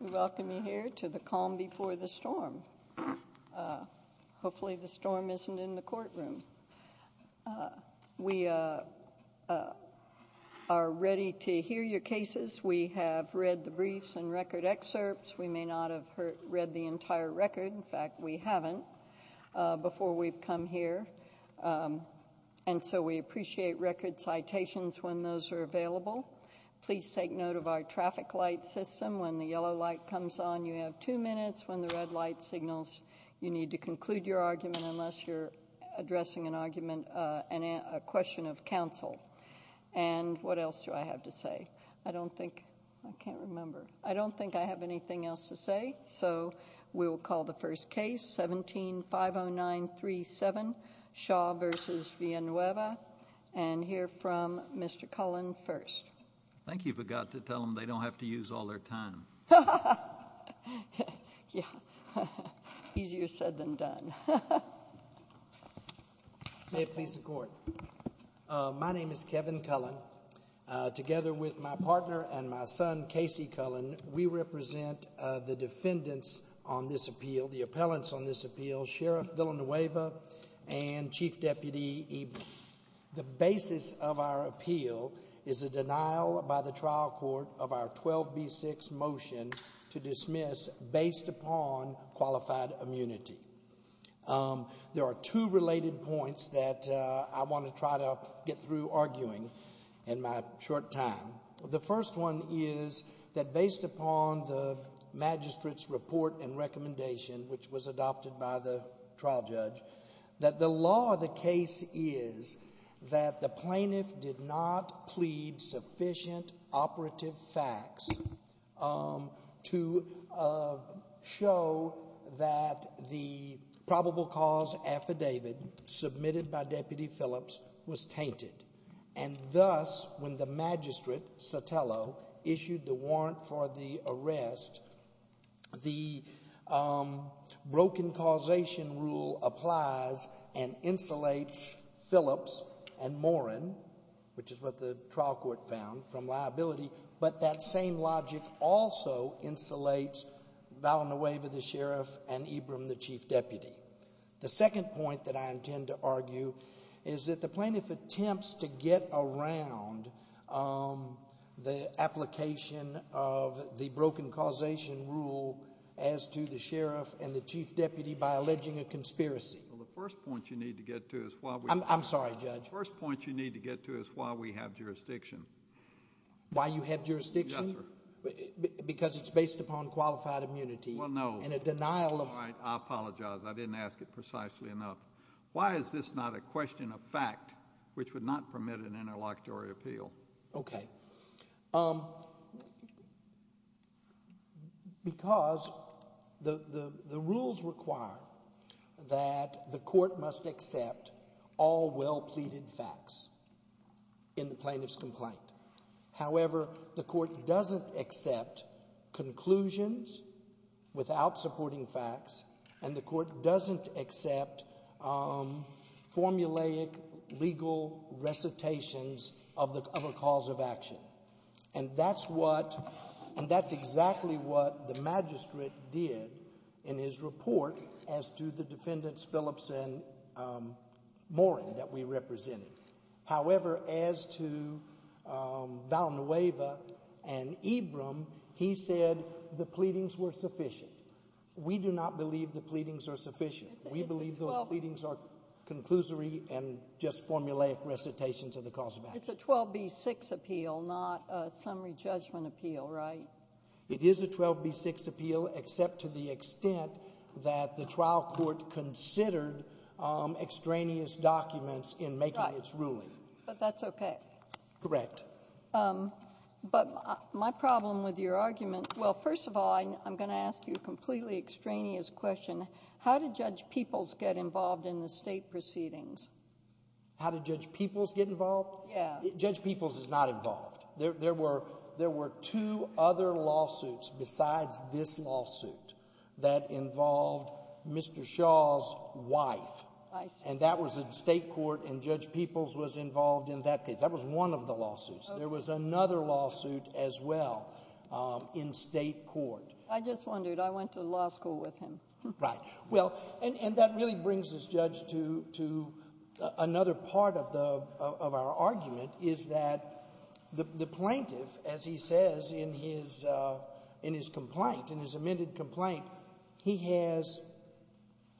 We welcome you here to the calm before the storm. Hopefully the storm isn't in the courtroom. We are ready to hear your cases. We have read the briefs and record excerpts. We may not have read the entire record, in fact we haven't, before we've come here. And so we appreciate record citations when those are available. Please take note of our traffic light system. When the yellow light comes on, you have two minutes. When the red light signals, you need to conclude your argument unless you're addressing an argument, a question of counsel. And what else do I have to say? I don't think, I can't remember. I don't think I have anything else to say. So we will call the first case, 17-50937, Shaw v. Villanueva, and hear from Mr. Cullen first. Thank you for God to tell them they don't have to use all their time. Yeah. Easier said than done. May it please the court. My name is Kevin Cullen. Together with my partner and my son, Casey Cullen, we represent the defendants on this appeal, the appellants on this appeal. Sheriff Villanueva and Chief Deputy Eber. The basis of our appeal is a denial by the trial court of our 12B6 motion to dismiss based upon qualified immunity. There are two related points that I want to try to get through arguing in my short time. The first one is that based upon the magistrate's report and recommendation, which was adopted by the trial judge, that the law of the case is that the plaintiff did not plead sufficient operative facts to show that the probable cause affidavit submitted by Deputy Phillips was tainted. Thus, when the magistrate, Sotelo, issued the warrant for the arrest, the broken causation rule applies and insulates Phillips and Morin, which is what the trial court found from liability, but that same logic also insulates Villanueva, the sheriff, and Eber, the chief deputy. The second point that I intend to argue is that the plaintiff attempts to get around the application of the broken causation rule as to the sheriff and the chief deputy by alleging a conspiracy. Well, the first point you need to get to is why we have jurisdiction. Why you have jurisdiction? Yes, sir. Because it's based upon qualified immunity. Well, no. And a denial of... All right. I apologize. I didn't ask it precisely enough. Why is this not a question of fact, which would not permit an interlocutory appeal? Okay. Because the rules require that the court must accept all well-pleaded facts in the plaintiff's complaint. However, the court doesn't accept conclusions without supporting facts, and the court doesn't accept formulaic legal recitations of a cause of action. And that's what... and that's exactly what the magistrate did in his report as to the defendants Phillips and Morin that we represented. However, as to Valnueva and Ebram, he said the pleadings were sufficient. We do not believe the pleadings are sufficient. We believe those pleadings are conclusory and just formulaic recitations of the cause of action. It's a 12B6 appeal, not a summary judgment appeal, right? It is a 12B6 appeal, except to the extent that the trial court considered extraneous documents in making its ruling. But that's okay. Correct. But my problem with your argument... well, first of all, I'm going to ask you a completely extraneous question. How did Judge Peoples get involved in the state proceedings? How did Judge Peoples get involved? Yeah. Judge Peoples is not involved. There were two other lawsuits besides this lawsuit that involved Mr. Shaw's wife, and that was in state court, and Judge Peoples was involved in that case. That was one of the lawsuits. There was another lawsuit as well in state court. I just wondered. I went to law school with him. Right. Well, and that really brings this judge to another part of our argument is that the plaintiff, as he says in his complaint, in his amended complaint, he has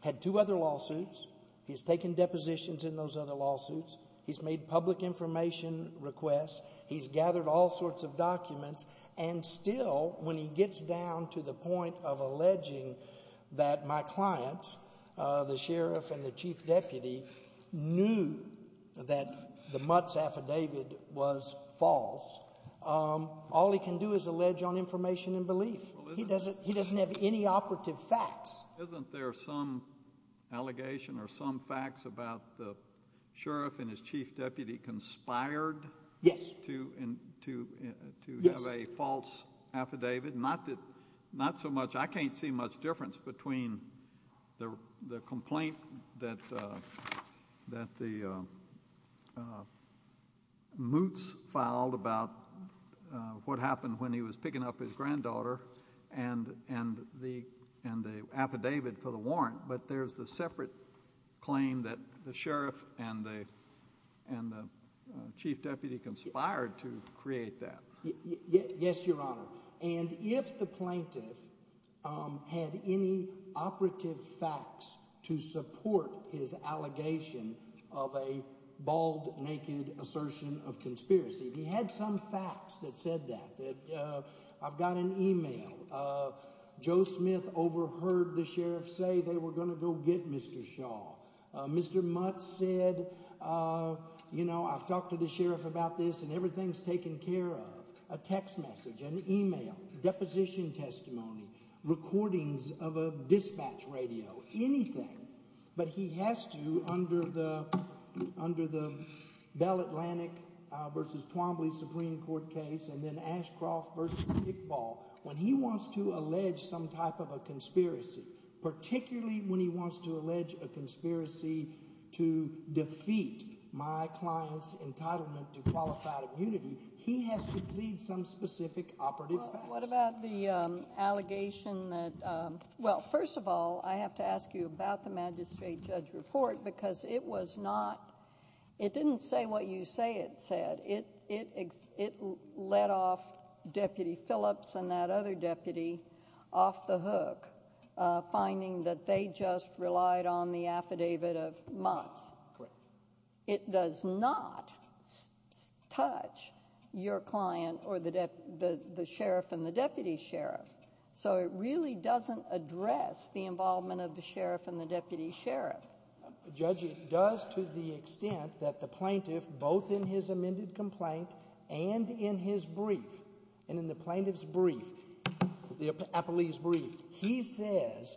had two other lawsuits. He's taken depositions in those other lawsuits. He's made public information requests. He's gathered all sorts of documents. And still, when he gets down to the point of alleging that my clients, the sheriff and the chief deputy, knew that the Mutt's affidavit was false, all he can do is allege on information and belief. He doesn't have any operative facts. Isn't there some allegation or some facts about the sheriff and his chief deputy conspired to have a false affidavit? Not so much. I can't see much difference between the complaint that the Mutt's filed about what happened when he was picking up his granddaughter and the affidavit for the warrant. But there's the separate claim that the sheriff and the chief deputy conspired to create that. Yes, Your Honor. And if the plaintiff had any operative facts to support his allegation of a bald, naked assertion of conspiracy, he had some facts that said that. I've got an email. Joe Smith overheard the sheriff say they were going to go get Mr. Shaw. Mr. Mutt said, you know, I've talked to the sheriff about this and everything's taken care of. A text message, an email, deposition testimony, recordings of a dispatch radio, anything. But he has to, under the Bell Atlantic v. Twombly Supreme Court case and then Ashcroft v. Pickball, when he wants to allege some type of a conspiracy, particularly when he wants to allege a conspiracy to defeat my client's entitlement to qualified immunity, he has to plead some specific operative facts. What about the allegation that... well, first of all, I have to ask you about the magistrate judge report because it was not... it didn't say what you say it said. It let off Deputy Phillips and that other deputy off the hook, finding that they just relied on the affidavit of Mutt's. Correct. It does not touch your client or the sheriff and the deputy sheriff. So it really doesn't address the involvement of the sheriff and the deputy sheriff. Judge, it does to the extent that the plaintiff, both in his amended complaint and in his brief, and in the plaintiff's brief, the appellee's brief, he says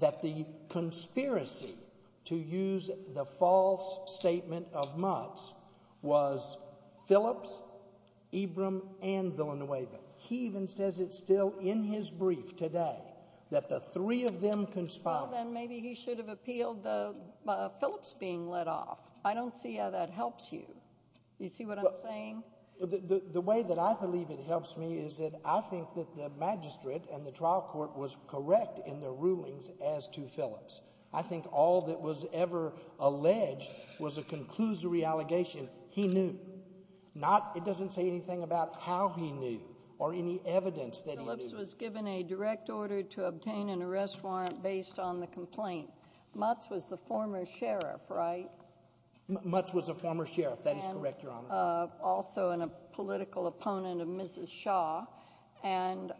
that the conspiracy to use the false statement of Mutt's was Phillips, Ebram, and Villanueva. He even says it still in his brief today, that the three of them conspired. Well, then maybe he should have appealed the Phillips being let off. I don't see how that helps you. You see what I'm saying? The way that I believe it helps me is that I think that the magistrate and the trial court was correct in their rulings as to Phillips. I think all that was ever alleged was a conclusory allegation. He knew. Not... it doesn't say anything about how he knew or any evidence that he knew. Phillips was given a direct order to obtain an arrest warrant based on the complaint. Mutt's was the former sheriff, right? Mutt's was a former sheriff. That is correct, Your Honor. Mutt's was also a political opponent of Mrs. Shaw, and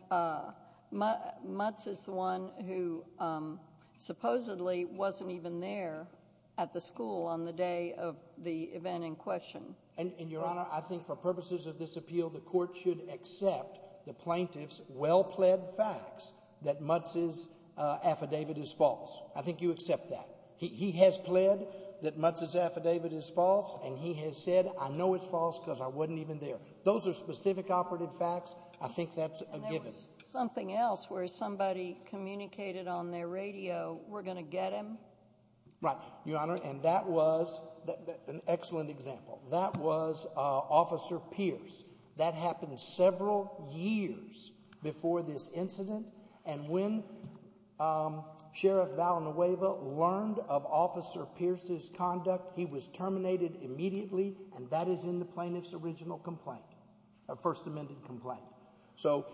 Mutt's is the one who supposedly wasn't even there at the school on the day of the event in question. Your Honor, I think for purposes of this appeal, the court should accept the plaintiff's well-pled facts that Mutt's' affidavit is false. I think you accept that. He has pled that Mutt's' affidavit is false, and he has said, I know it's false because I wasn't even there. Those are specific operative facts. I think that's a given. And there was something else where somebody communicated on their radio, we're going to get him. Right. Your Honor, and that was an excellent example. That was Officer Pierce. That happened several years before this incident, and when Sheriff Valnueva learned of Officer Pierce's conduct, he was terminated immediately, and that is in the plaintiff's original complaint, a First Amendment complaint. So,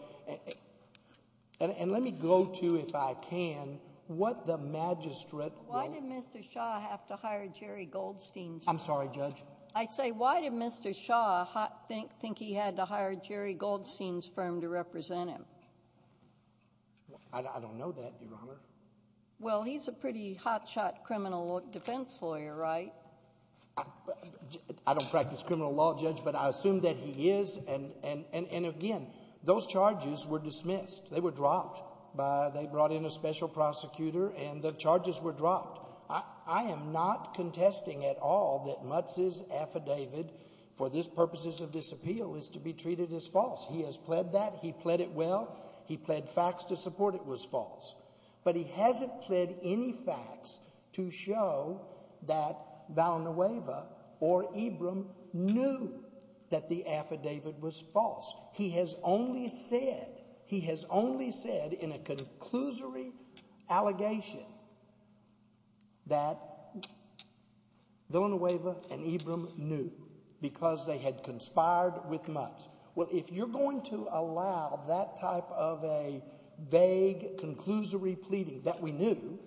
and let me go to, if I can, what the magistrate will- Why did Mr. Shaw have to hire Jerry Goldstein, Judge? I'm sorry, Judge? I'd say, why did Mr. Shaw think he had to hire Jerry Goldstein's firm to represent him? I don't know that, Your Honor. Well, he's a pretty hot shot criminal defense lawyer, right? I don't practice criminal law, Judge, but I assume that he is, and again, those charges were dismissed. They were dropped. They brought in a special prosecutor, and the charges were dropped. I am not contesting at all that Mutz's affidavit for the purposes of this appeal is to be treated as false. He has pled that. He pled it well. He pled facts to support it was false, but he hasn't pled any facts to show that Valnueva or Ibram knew that the affidavit was false. He has only said in a conclusory allegation that Valnueva and Ibram knew because they had conspired with Mutz. Well, if you're going to allow that type of a vague, conclusory pleading that we knew,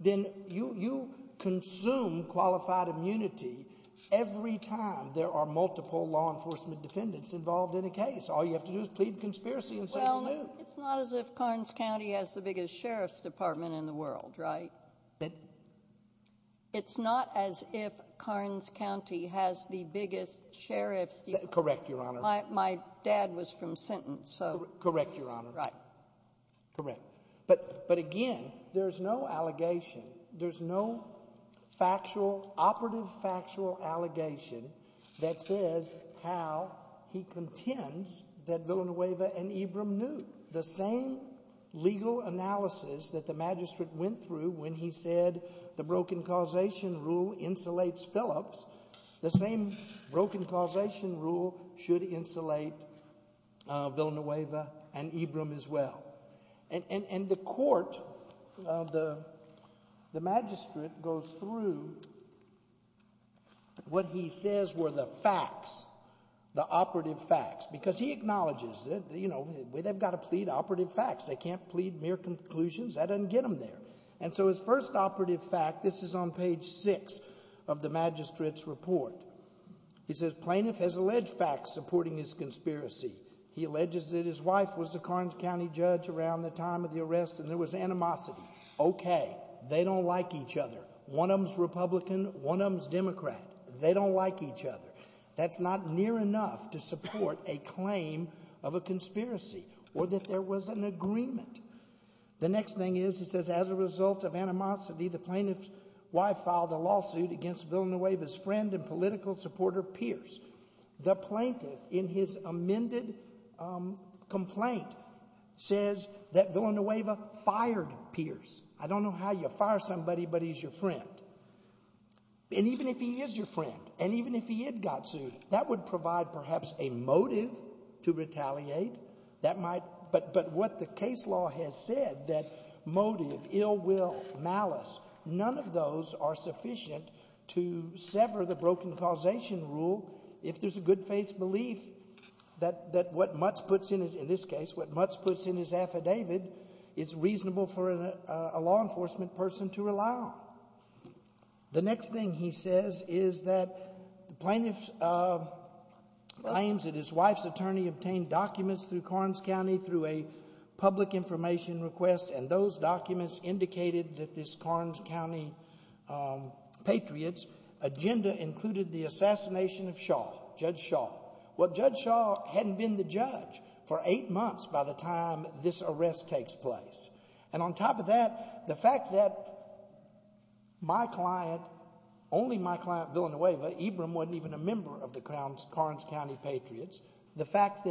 then you consume qualified immunity every time there are multiple law enforcement defendants involved in a case. All you have to do is plead conspiracy and say we knew. It's not as if Carnes County has the biggest sheriff's department in the world, right? It's not as if Carnes County has the biggest sheriff's department. Correct, Your Honor. My dad was from Sinton, so. Correct, Your Honor. Right. Correct. But again, there's no allegation. There's no factual, operative factual allegation that says how he contends that Valnueva and Ibram knew. The same legal analysis that the magistrate went through when he said the broken causation rule insulates Phillips, the same broken causation rule should insulate Valnueva and Ibram as well. And the court, the magistrate goes through what he says were the facts, the operative facts, because he acknowledges that, you know, they've got to plead operative facts. They can't plead mere conclusions. That doesn't get them there. And so his first operative fact, this is on page six of the magistrate's report. He says plaintiff has alleged facts supporting his conspiracy. He alleges that his wife was the Carnes County judge around the time of the arrest and there was animosity. OK, they don't like each other. One of them's Republican, one of them's Democrat. They don't like each other. That's not near enough to support a claim of a conspiracy or that there was an agreement. The next thing is, he says, as a result of animosity, the plaintiff's wife filed a lawsuit against Valnueva's friend and political supporter, Pierce. The plaintiff, in his amended complaint, says that Valnueva fired Pierce. I don't know how you fire somebody, but he's your friend. And even if he is your friend, and even if he had got sued, that would provide perhaps a motive to retaliate. That might. But what the case law has said, that motive, ill will, malice, none of those are sufficient to sever the broken causation rule if there's a good faith belief that what Mutz puts in his, in this case, what Mutz puts in his affidavit is reasonable for a law enforcement person to allow. The next thing he says is that the plaintiff claims that his wife's attorney obtained documents through Carnes County through a public information request and those documents indicated that this Carnes County Patriots agenda included the assassination of Shaw, Judge Shaw. Well, Judge Shaw hadn't been the judge for eight months by the time this arrest takes place. And on top of that, the fact that my client, only my client, Villanueva, Ibram wasn't even a member of the Carnes County Patriots. The fact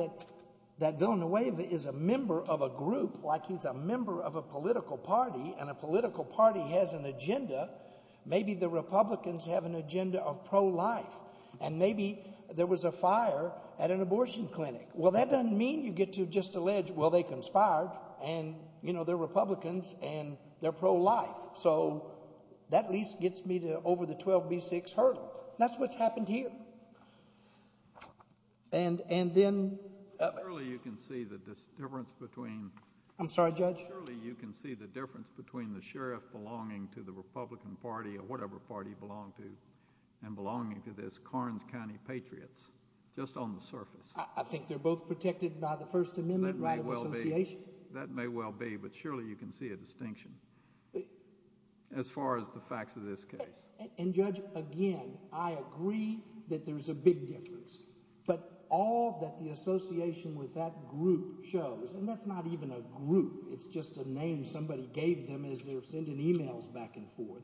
that Villanueva is a member of a group, like he's a member of a political party and a political party has an agenda, maybe the Republicans have an agenda of pro-life and maybe there was a fire at an abortion clinic. Well, that doesn't mean you get to just allege, well, they conspired and, you know, they're Republicans and they're pro-life. So that at least gets me to over the 12B6 hurdle. That's what's happened here. And then... Surely you can see the difference between... I'm sorry, Judge? Surely you can see the difference between the sheriff belonging to the Republican Party or whatever party he belonged to and belonging to this Carnes County Patriots, just on the surface. I think they're both protected by the First Amendment right of association. That may well be, but surely you can see a distinction as far as the facts of this case. And Judge, again, I agree that there's a big difference, but all that the association with that group shows, and that's not even a group, it's just a name somebody gave them as they're sending emails back and forth,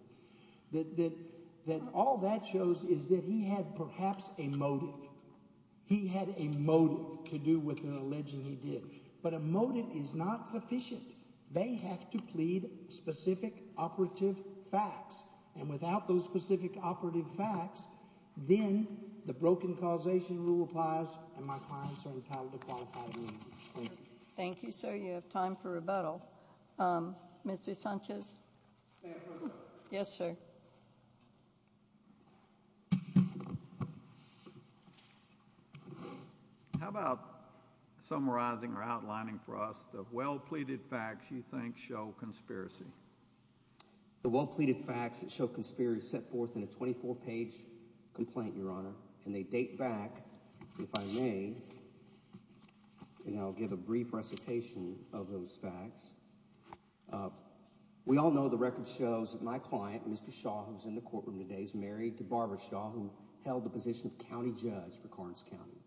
that all that shows is that he had perhaps a motive. He had a motive to do with an alleging he did. But a motive is not sufficient. They have to plead specific operative facts. And without those specific operative facts, then the broken causation rule applies and my clients are entitled to qualified immunity. Thank you. Thank you, sir. You have time for rebuttal. Mr. Sanchez? May I have a quick question? Yes, sir. How about summarizing or outlining for us the well-pleaded facts you think show conspiracy? The well-pleaded facts that show conspiracy are set forth in a 24-page complaint, Your Honor. Yes. And I'll give a brief recitation of those facts. We all know the record shows that my client, Mr. Shaw, who's in the courtroom today, is married to Barbara Shaw, who held the position of county judge for Carnes County.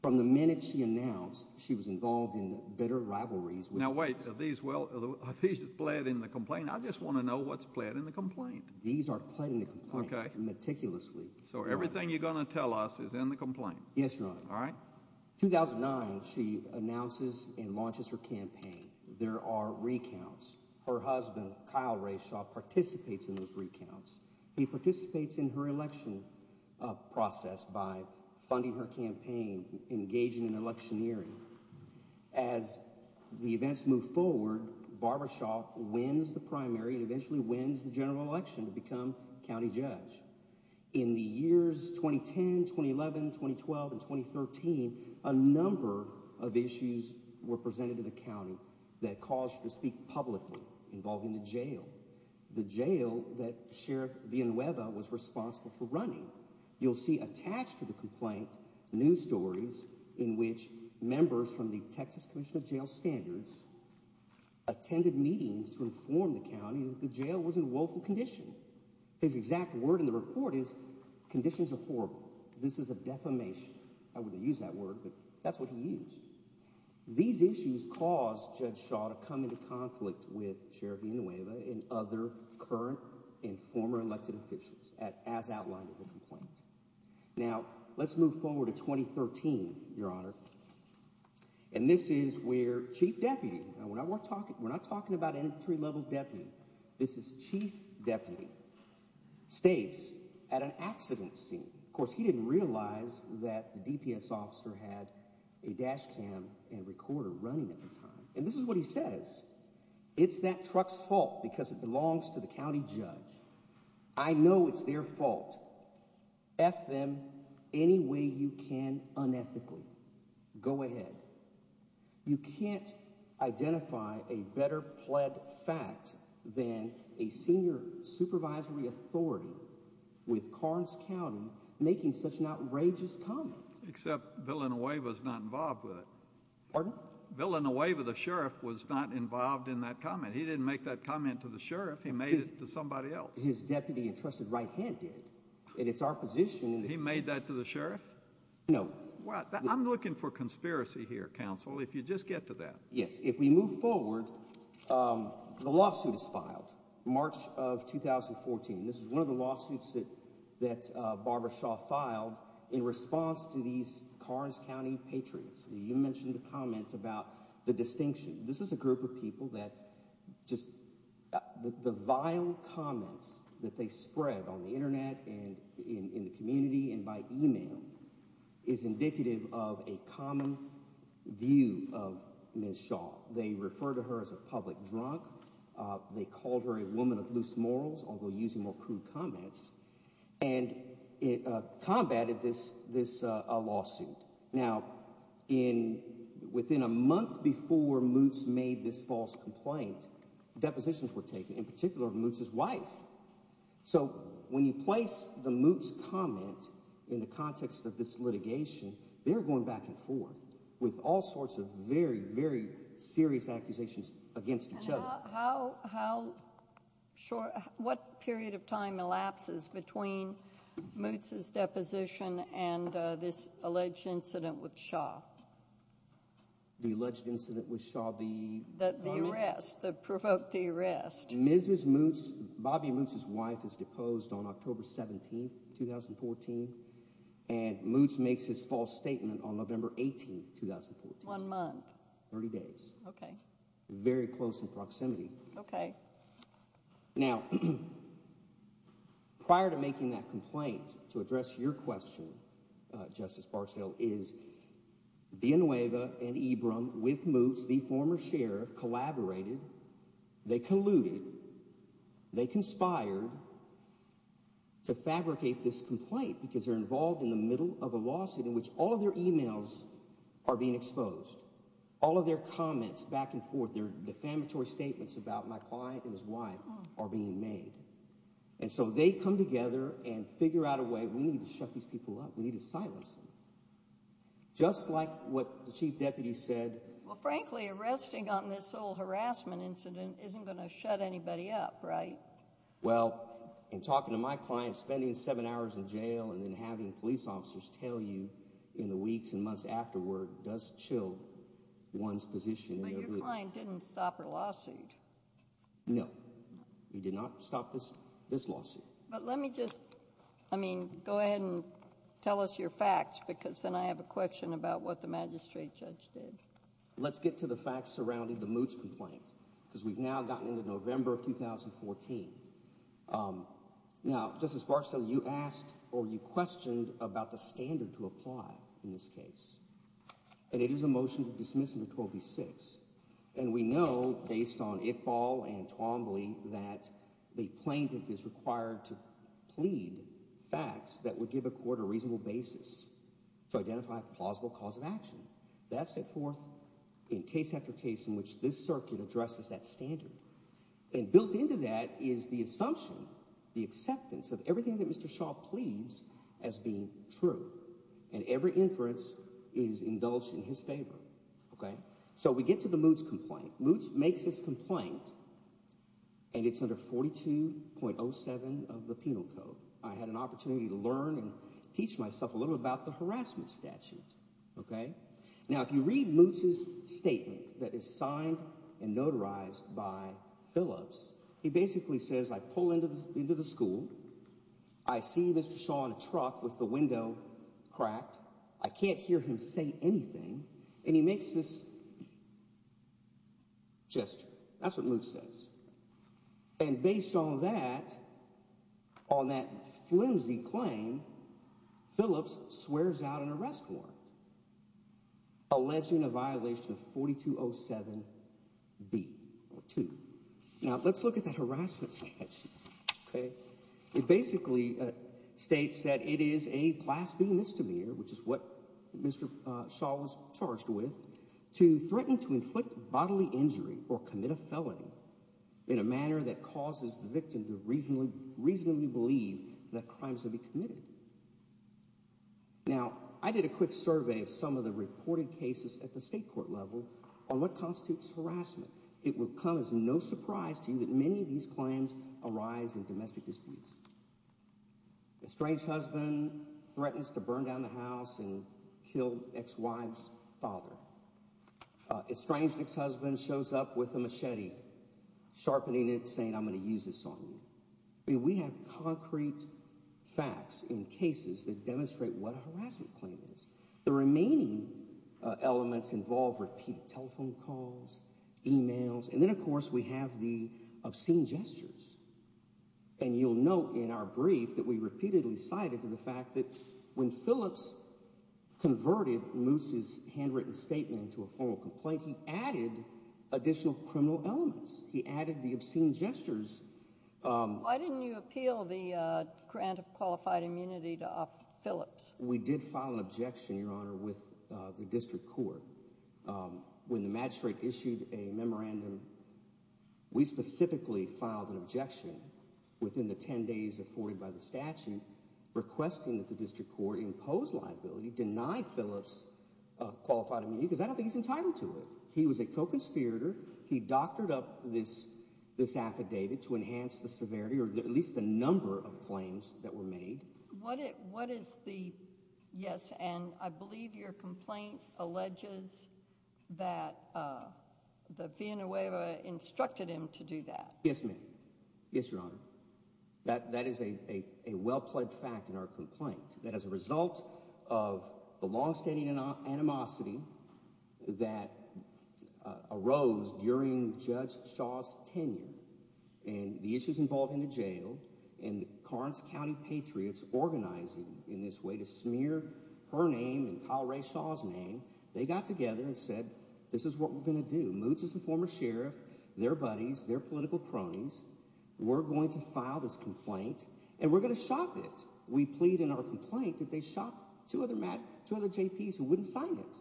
From the minute she announced she was involved in bitter rivalries with the police— Now, wait. Are these well—are these pled in the complaint? I just want to know what's pled in the complaint. These are pled in the complaint. Okay. Meticulously. So everything you're going to tell us is in the complaint? Yes, Your Honor. All right. In 2009, she announces and launches her campaign. There are recounts. Her husband, Kyle Ray Shaw, participates in those recounts. He participates in her election process by funding her campaign, engaging in electioneering. As the events move forward, Barbara Shaw wins the primary and eventually wins the general election to become county judge. In the years 2010, 2011, 2012, and 2013, a number of issues were presented to the county that caused her to speak publicly involving the jail, the jail that Sheriff Villanueva was responsible for running. You'll see attached to the complaint news stories in which members from the Texas Commission of Jail Standards attended meetings to inform the county that the jail was in woeful condition. His exact word in the report is, conditions are horrible. This is a defamation. I wouldn't use that word, but that's what he used. These issues caused Judge Shaw to come into conflict with Sheriff Villanueva and other current and former elected officials as outlined in the complaint. Now let's move forward to 2013, Your Honor. And this is where Chief Deputy, we're not talking about entry-level deputy, this is Chief Deputy, states at an accident scene, of course he didn't realize that the DPS officer had a dash cam and recorder running at the time, and this is what he says, it's that truck's fault because it belongs to the county judge. I know it's their fault. F them any way you can unethically. Go ahead. You can't identify a better-plead fact than a senior supervisory authority with Carnes County making such an outrageous comment. Except Villanueva's not involved with it. Pardon? Villanueva, the sheriff, was not involved in that comment. He didn't make that comment to the sheriff. He made it to somebody else. His deputy and trusted right hand did. It's our position. He made that to the sheriff? No. I'm looking for conspiracy here, counsel, if you just get to that. Yes. If we move forward, the lawsuit is filed, March of 2014, this is one of the lawsuits that Barbara Shaw filed in response to these Carnes County Patriots. You mentioned the comment about the distinction. This is a group of people that just, the vile comments that they spread on the internet and in the community and by email is indicative of a common view of Ms. Shaw. They refer to her as a public drunk. They called her a woman of loose morals, although using more crude comments, and it combated this lawsuit. Now within a month before Moots made this false complaint, depositions were taken, in particular of Moots's wife. So when you place the Moots comment in the context of this litigation, they're going back and forth with all sorts of very, very serious accusations against each other. What period of time elapses between Moots's deposition and this alleged incident with Shaw? The alleged incident with Shaw, the woman? The arrest, that provoked the arrest. Mrs. Moots, Bobby Moots's wife, was deposed on October 17, 2014, and Moots makes his false statement on November 18, 2014. One month. 30 days. Okay. Very close in proximity. Okay. Now, prior to making that complaint, to address your question, Justice Barksdale, is Villanueva and Ebram, with Moots, the former sheriff, collaborated, they colluded, they conspired to fabricate this complaint, because they're involved in the middle of a lawsuit in which all of their emails are being exposed. All of their comments, back and forth, their defamatory statements about my client and his wife are being made. And so they come together and figure out a way, we need to shut these people up, we need to silence them. Just like what the chief deputy said. Well, frankly, arresting on this whole harassment incident isn't going to shut anybody up, right? Well, in talking to my client, spending seven hours in jail, and then having police officers tell you in the weeks and months afterward, does chill one's position. But your client didn't stop her lawsuit. No. He did not stop this lawsuit. But let me just, I mean, go ahead and tell us your facts, because then I have a question about what the magistrate judge did. Let's get to the facts surrounding the Moots complaint, because we've now gotten into November of 2014. Now, Justice Barksdale, you asked, or you questioned, about the standard to apply in this case. And it is a motion to dismiss under 12B-6. And we know, based on Iqbal and Twombly, that the plaintiff is required to plead facts that would give a court a reasonable basis to identify a plausible cause of action. That's set forth in case after case in which this circuit addresses that standard. And built into that is the assumption, the acceptance, of everything that Mr. Shaw pleads as being true. And every inference is indulged in his favor, okay? So we get to the Moots complaint. Moots makes this complaint, and it's under 42.07 of the Penal Code. I had an opportunity to learn and teach myself a little about the harassment statute, okay? Now if you read Moots' statement that is signed and notarized by Phillips, he basically says, I pull into the school, I see Mr. Shaw in a truck with the window cracked, I can't hear him say anything, and he makes this gesture. That's what Moots says. And based on that, on that flimsy claim, Phillips swears out an arrest warrant, alleging a violation of 42.07B-2. Now let's look at that harassment statute, okay? It basically states that it is a blasphemy misdemeanor, which is what Mr. Shaw was charged with, to threaten to inflict bodily injury or commit a felony in a manner that causes the victim to reasonably believe that crimes will be committed. Now I did a quick survey of some of the reported cases at the state court level on what constitutes harassment. It would come as no surprise to you that many of these claims arise in domestic disputes. A estranged husband threatens to burn down the house and kill ex-wife's father. Estranged ex-husband shows up with a machete, sharpening it, saying, I'm going to use this on you. I mean, we have concrete facts in cases that demonstrate what a harassment claim is. The remaining elements involve repeat telephone calls, emails, and then of course we have the obscene gestures. And you'll note in our brief that we repeatedly cited the fact that when Phillips converted Moose's handwritten statement into a formal complaint, he added additional criminal elements. He added the obscene gestures. Why didn't you appeal the grant of qualified immunity to Phillips? We did file an objection, Your Honor, with the district court. When the magistrate issued a memorandum, we specifically filed an objection within the ten days afforded by the statute requesting that the district court impose liability, deny Phillips qualified immunity because I don't think he's entitled to it. He was a co-conspirator. He doctored up this affidavit to enhance the severity or at least the number of claims that were made. What is the, yes, and I believe your complaint alleges that the Viena-Hueva instructed him to do that. Yes, ma'am. Yes, Your Honor. That is a well-pledged fact in our complaint that as a result of the longstanding animosity that arose during Judge Shaw's tenure and the issues involved in the jail and the Carnes County Patriots organizing in this way to smear her name and Kyle Ray Shaw's name, they got together and said, this is what we're going to do. Moots is the former sheriff, their buddies, their political cronies. We're going to file this complaint and we're going to shop it. We plead in our complaint that they shop two other JPs who wouldn't sign it.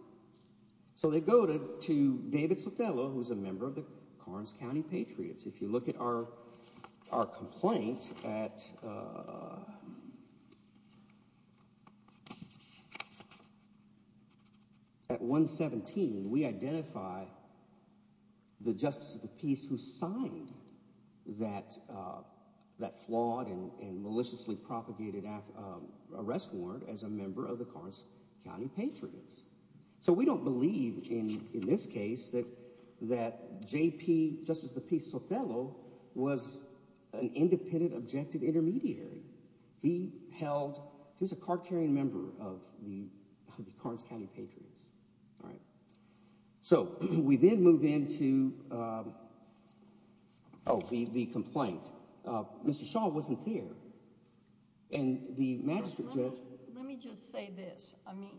So they go to David Sotelo, who's a member of the Carnes County Patriots. If you look at our complaint at 117, we identify the justice of the peace who signed that flawed and maliciously propagated arrest warrant as a member of the Carnes County Patriots. So we don't believe in this case that JP, Justice of the Peace Sotelo, was an independent objective intermediary. He held, he was a card-carrying member of the Carnes County Patriots. So we then move into the complaint. Mr. Shaw wasn't there and the magistrate judge. Let me just say this. I mean,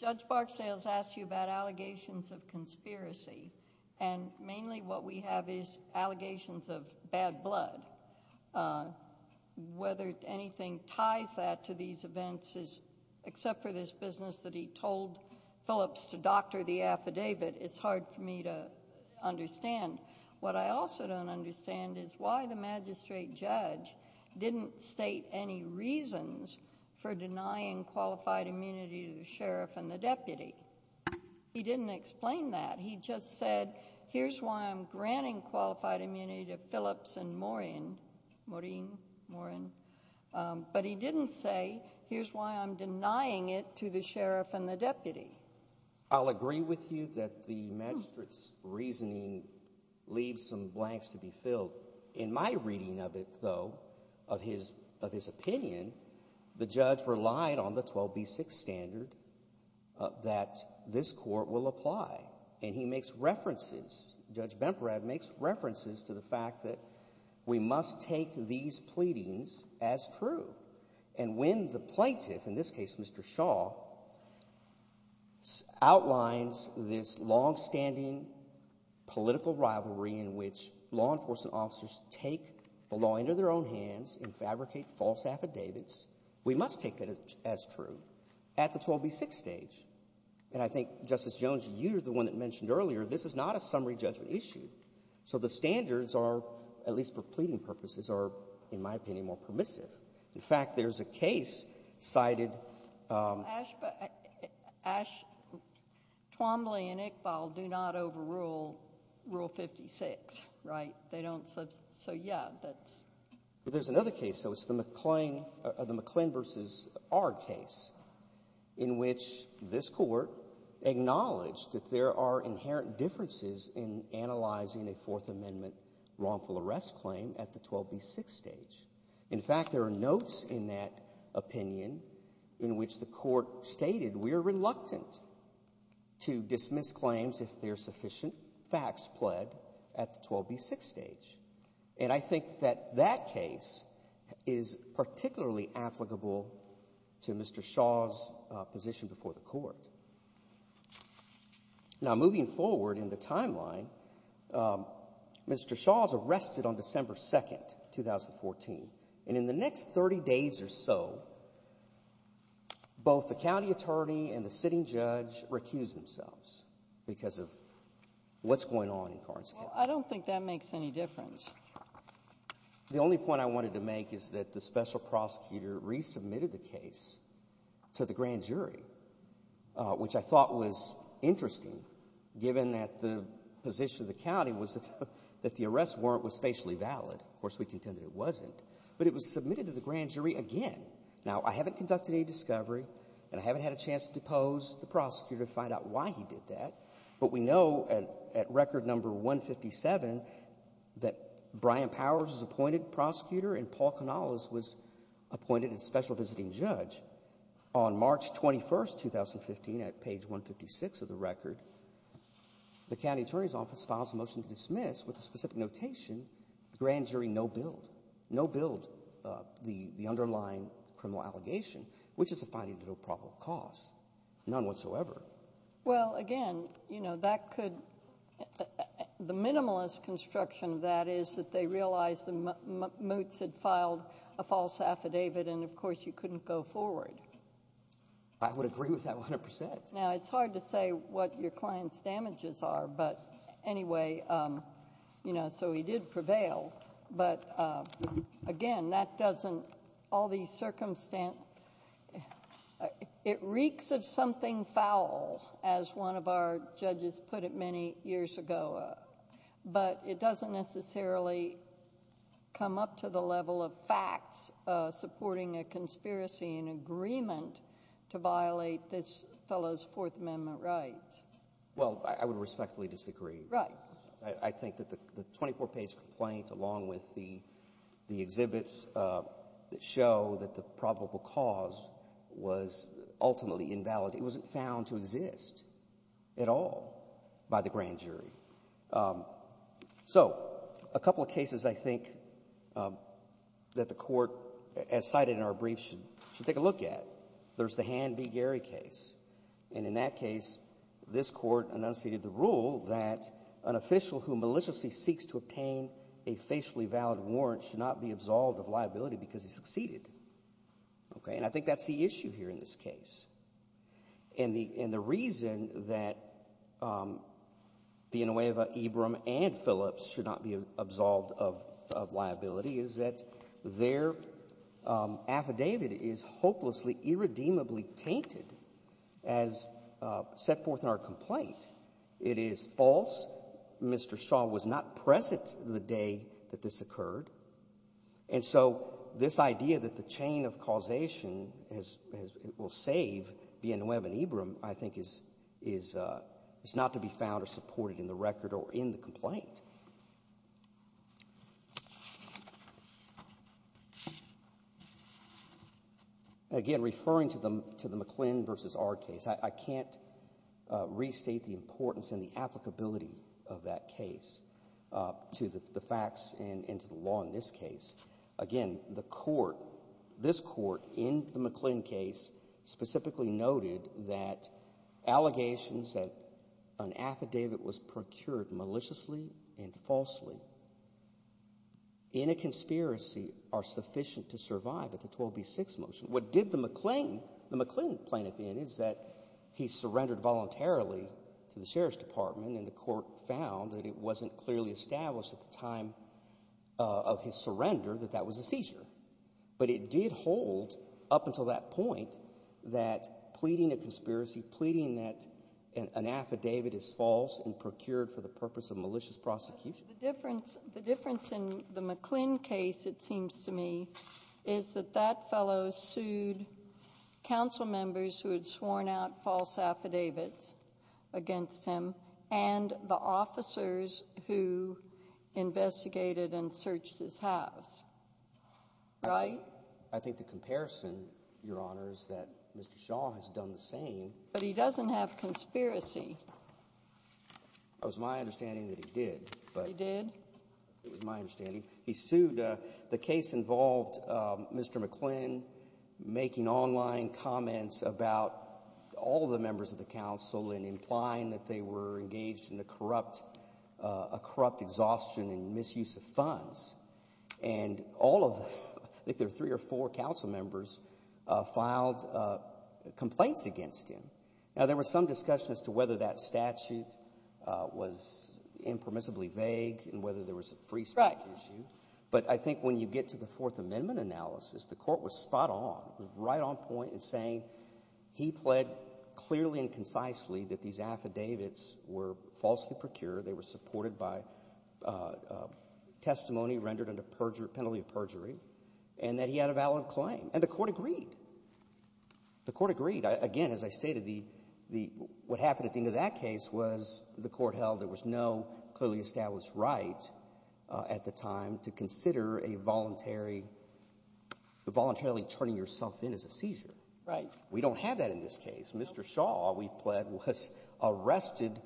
Judge Barksdale's asked you about allegations of conspiracy. And mainly what we have is allegations of bad blood. Whether anything ties that to these events is, except for this business that he told Phillips to doctor the affidavit, it's hard for me to understand. What I also don't understand is why the magistrate judge didn't state any reasons for denying qualified immunity to the sheriff and the deputy. He didn't explain that. He just said, here's why I'm granting qualified immunity to Phillips and Morin, Morin, Morin. But he didn't say, here's why I'm denying it to the sheriff and the deputy. I'll agree with you that the magistrate's reasoning leaves some blanks to be filled. In my reading of it, though, of his opinion, the judge relied on the 12B6 standard that this court will apply. And he makes references, Judge Bemprad makes references to the fact that we must take these pleadings as true. And when the plaintiff, in this case, Mr. Shaw, outlines this longstanding political rivalry in which law enforcement officers take the law into their own hands and fabricate false affidavits, we must take that as true at the 12B6 stage. And I think, Justice Jones, you're the one that mentioned earlier, this is not a summary judgment issue. So the standards are, at least for pleading purposes, are, in my opinion, more permissive. In fact, there's a case cited— Ash—Ash—Twombly and Iqbal do not overrule Rule 56, right? They don't—so, yeah, that's— But there's another case, though, it's the McClain—the McClain v. R case, in which this court acknowledged that there are inherent differences in analyzing a Fourth Amendment wrongful arrest claim at the 12B6 stage. In fact, there are notes in that opinion in which the court stated, we are reluctant to dismiss claims if there are sufficient facts pled at the 12B6 stage. And I think that that case is particularly applicable to Mr. Shaw's position before the court. Now, moving forward in the timeline, Mr. Shaw was arrested on December 2, 2014, and in the next 30 days or so, both the county attorney and the sitting judge recused themselves because of what's going on in Carnes County. Well, I don't think that makes any difference. The only point I wanted to make is that the special prosecutor resubmitted the case to the grand jury, which I thought was interesting, given that the position of the county was that the arrest warrant was spatially valid. Of course, we contended it wasn't. But it was submitted to the grand jury again. Now, I haven't conducted any discovery, and I haven't had a chance to depose the prosecutor to find out why he did that, but we know at record number 157 that Brian Powers was appointed prosecutor and Paul Canales was appointed as special visiting judge. On March 21, 2015, at page 156 of the record, the county attorney's office filed a motion to dismiss with a specific notation, the grand jury no-billed. No-billed the underlying criminal allegation, which is a finding of no probable cause, none whatsoever. Well, again, you know, that could, the minimalist construction of that is that they realized the moots had filed a false affidavit, and of course you couldn't go forward. I would agree with that 100%. Now, it's hard to say what your client's damages are, but anyway, you know, so he did prevail. But again, that doesn't... all these circumstances... it reeks of something foul, as one of our judges put it many years ago, but it doesn't necessarily come up to the level of facts supporting a conspiracy in agreement to violate this fellow's Fourth Amendment rights. Well, I would respectfully disagree. Right. I think that the 24-page complaint, along with the exhibits that show that the probable cause was ultimately invalid, it wasn't found to exist at all by the grand jury. So a couple of cases I think that the Court, as cited in our brief, should take a look at. There's the Hand v. Gary case, and in that case, this Court enunciated the rule that an official who maliciously seeks to obtain a facially valid warrant should not be absolved of liability because he succeeded. Okay? And I think that's the issue here in this case. And the reason that Vinaweva, Ebram, and Phillips should not be absolved of liability is that their affidavit is hopelessly, irredeemably tainted as set forth in our complaint. It is false. Mr. Shaw was not present the day that this occurred. And so this idea that the chain of causation will save Vinaweva and Ebram, I think, is not to be found or supported in the record or in the complaint. Again, referring to the McClin v. R case, I can't restate the importance and the applicability of that case to the facts and to the law in this case. Again, the Court, this Court, in the McClin case, specifically noted that allegations that an affidavit was procured maliciously and falsely in a conspiracy are sufficient to survive at the 12B6 motion. What did the McClin, the McClin plaintiff in, is that he surrendered voluntarily to the Sheriff's Department and the Court found that it wasn't clearly established at the But it did hold, up until that point, that pleading a conspiracy, pleading that an affidavit is false and procured for the purpose of malicious prosecution. The difference in the McClin case, it seems to me, is that that fellow sued council members who had sworn out false affidavits against him and the officers who investigated and Right. I think the comparison, Your Honor, is that Mr. Shaw has done the same. But he doesn't have conspiracy. It was my understanding that he did. He did? It was my understanding. He sued, the case involved Mr. McClin making online comments about all the members of the council and implying that they were engaged in a corrupt, a corrupt exhaustion and misuse of funds. And all of them, I think there were three or four council members, filed complaints against him. Now, there was some discussion as to whether that statute was impermissibly vague and whether there was a free speech issue. But I think when you get to the Fourth Amendment analysis, the Court was spot on, was right on point in saying he pled clearly and concisely that these affidavits were falsely procured, they were supported by testimony rendered under penalty of perjury, and that he had a valid claim. And the Court agreed. The Court agreed. Again, as I stated, what happened at the end of that case was the Court held there was no clearly established right at the time to consider a voluntary, voluntarily turning yourself in as a seizure. We don't have that in this case. Mr. Shaw, we pled, was arrested,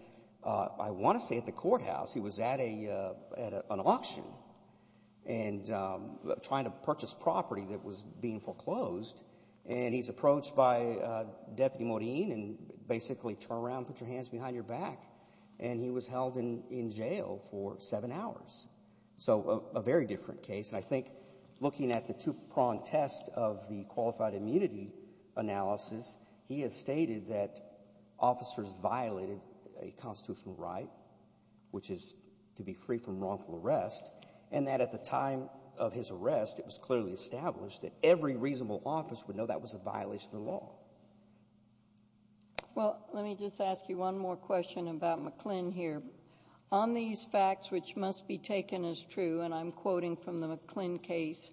I want to say at the courthouse. He was at an auction and trying to purchase property that was being foreclosed. And he's approached by Deputy Morine and basically, turn around, put your hands behind your back. And he was held in jail for seven hours. So a very different case. And I think looking at the two-pronged test of the qualified immunity analysis, he has stated that officers violated a constitutional right, which is to be free from wrongful arrest, and that at the time of his arrest, it was clearly established that every reasonable office would know that was a violation of the law. Well, let me just ask you one more question about McClin here. On these facts, which must be taken as true, and I'm quoting from the McClin case,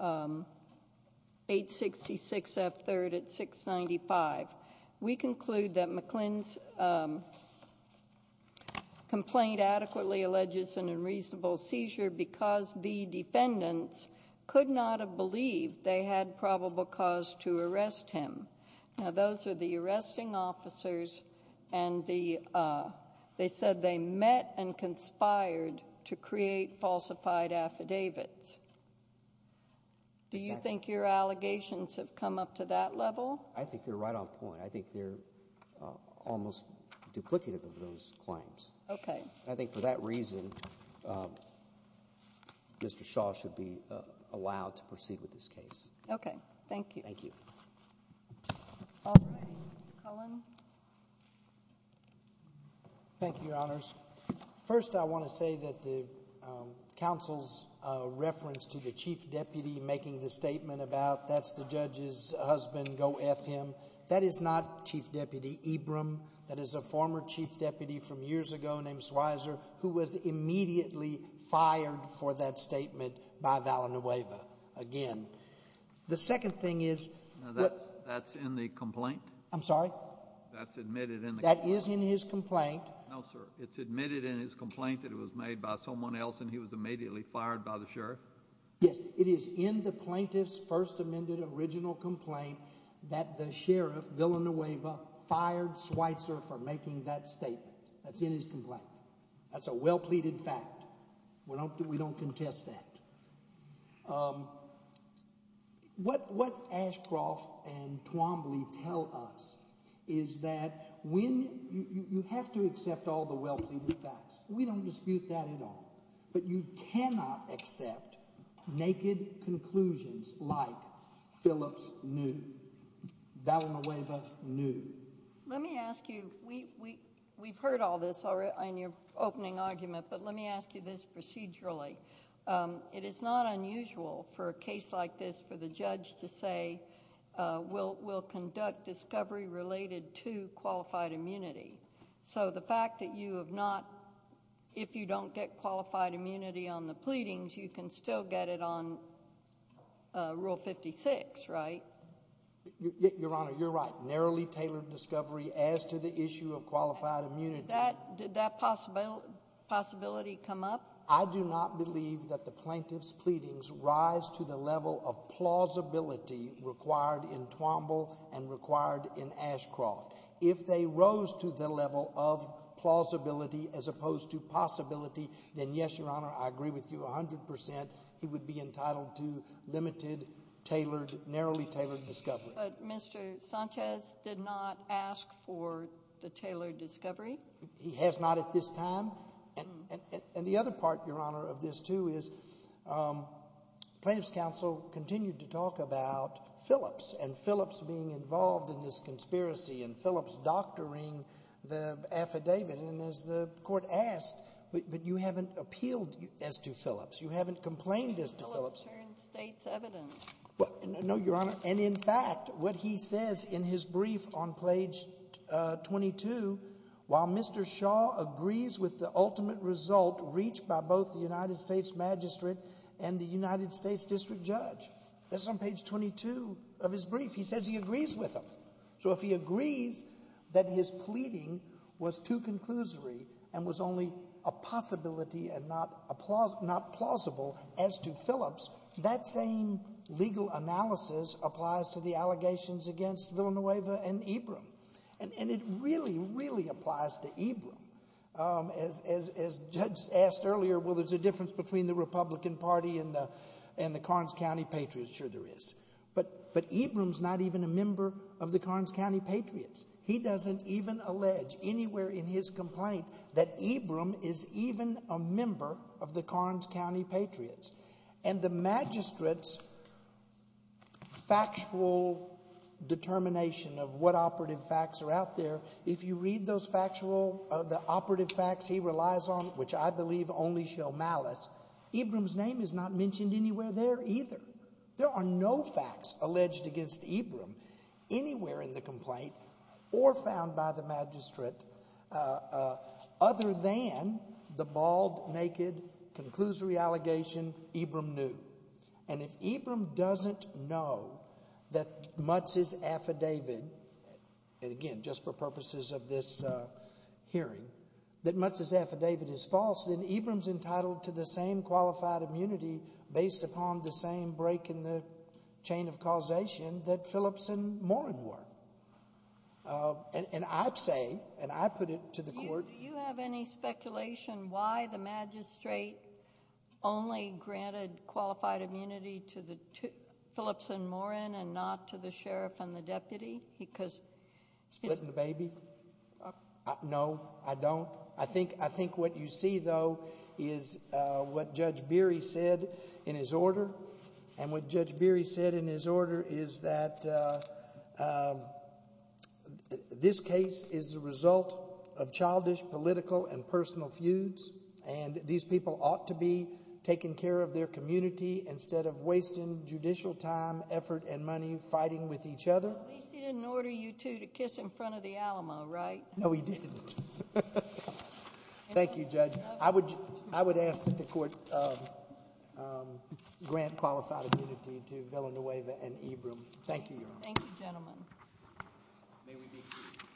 866F3rd at 695. We conclude that McClin's complaint adequately alleges an unreasonable seizure because the defendants could not have believed they had probable cause to arrest him. Now, those are the arresting officers, and they said they met and conspired to create falsified affidavits. Do you think your allegations have come up to that level? I think they're right on point. I think they're almost duplicative of those claims. Okay. I think for that reason, Mr. Shaw should be allowed to proceed with this case. Okay, thank you. Thank you. All right. Cullen. Thank you, Your Honors. First, I want to say that the counsel's reference to the chief deputy making the statement about, that's the judge's husband, go F him, that is not Chief Deputy Ebram. That is a former chief deputy from years ago named Swizer, who was immediately fired for that statement by Vallenueva, again. The second thing is- That's in the complaint? I'm sorry? That's admitted in the- That is in his complaint. No, sir. It's admitted in his complaint that it was made by someone else, and he was immediately fired by the sheriff? Yes, it is in the plaintiff's first amended original complaint that the sheriff, Vallenueva, fired Swizer for making that statement. That's in his complaint. That's a well pleaded fact. We don't contest that. What Ashcroft and Twombly tell us is that you have to accept all the well pleaded facts. We don't dispute that at all. But you cannot accept naked conclusions like Phillips knew, Vallenueva knew. Let me ask you, we've heard all this in your opening argument, but let me ask you this procedurally. It is not unusual for a case like this for the judge to say, we'll conduct discovery related to qualified immunity. So the fact that you have not, if you don't get qualified immunity on the pleadings, you can still get it on Rule 56, right? Your Honor, you're right. Narrowly tailored discovery as to the issue of qualified immunity. Did that possibility come up? I do not believe that the plaintiff's pleadings rise to the level of plausibility required in Twombly and required in Ashcroft. If they rose to the level of plausibility as opposed to possibility, then yes, Your Honor, I agree with you 100%. He would be entitled to limited, tailored, narrowly tailored discovery. But Mr. Sanchez did not ask for the tailored discovery. He has not at this time. And the other part, Your Honor, of this too is plaintiff's counsel continued to talk about Phillips and Phillips being involved in this conspiracy and Phillips doctoring the affidavit, and as the court asked, but you haven't appealed as to Phillips. You haven't complained as to Phillips. Phillips turned state's evidence. No, Your Honor. And in fact, what he says in his brief on page 22, while Mr. Shaw agrees with the ultimate result reached by both the United States magistrate and the United States district judge. That's on page 22 of his brief. He says he agrees with him. So if he agrees that his pleading was too conclusory and was only a possibility and not plausible as to Phillips, that same legal analysis applies to the allegations against Villanueva and Ebram. And it really, really applies to Ebram. As, as, as Judge asked earlier, well, there's a difference between the Republican party and the, and the Carnes County Patriots. Sure there is. But, but Ebram's not even a member of the Carnes County Patriots. He doesn't even allege anywhere in his complaint that Ebram is even a member of the Carnes County Patriots. And the magistrate's factual determination of what operative facts are out there, if you read those factual, the operative facts he relies on, which I believe only show malice, Ebram's name is not mentioned anywhere there either. There are no facts alleged against Ebram anywhere in the complaint or found by the magistrate other than the bald, naked, conclusory allegation Ebram knew. And if Ebram doesn't know that Mutz's affidavit, and again, just for purposes of this hearing, that Mutz's affidavit is false, then Ebram's entitled to the same qualified immunity based upon the same break in the chain of causation that Phillips and Morin were. And, and I say, and I put it to the court. Do you have any speculation why the magistrate only granted qualified immunity to the two, Phillips and Morin, and not to the sheriff and the deputy, because- Splitting the baby? No, I don't. I think, I think what you see though, is what Judge Beery said in his order. And what Judge Beery said in his order is that this case is the result of childish political and personal feuds. And these people ought to be taking care of their community instead of wasting judicial time, effort, and money fighting with each other. At least he didn't order you two to kiss in front of the Alamo, right? No, he didn't. Thank you, Judge. I would, I would ask that the court grant qualified immunity to Villanueva and Ebram. Thank you, Your Honor. Thank you, gentlemen. May we be cleared.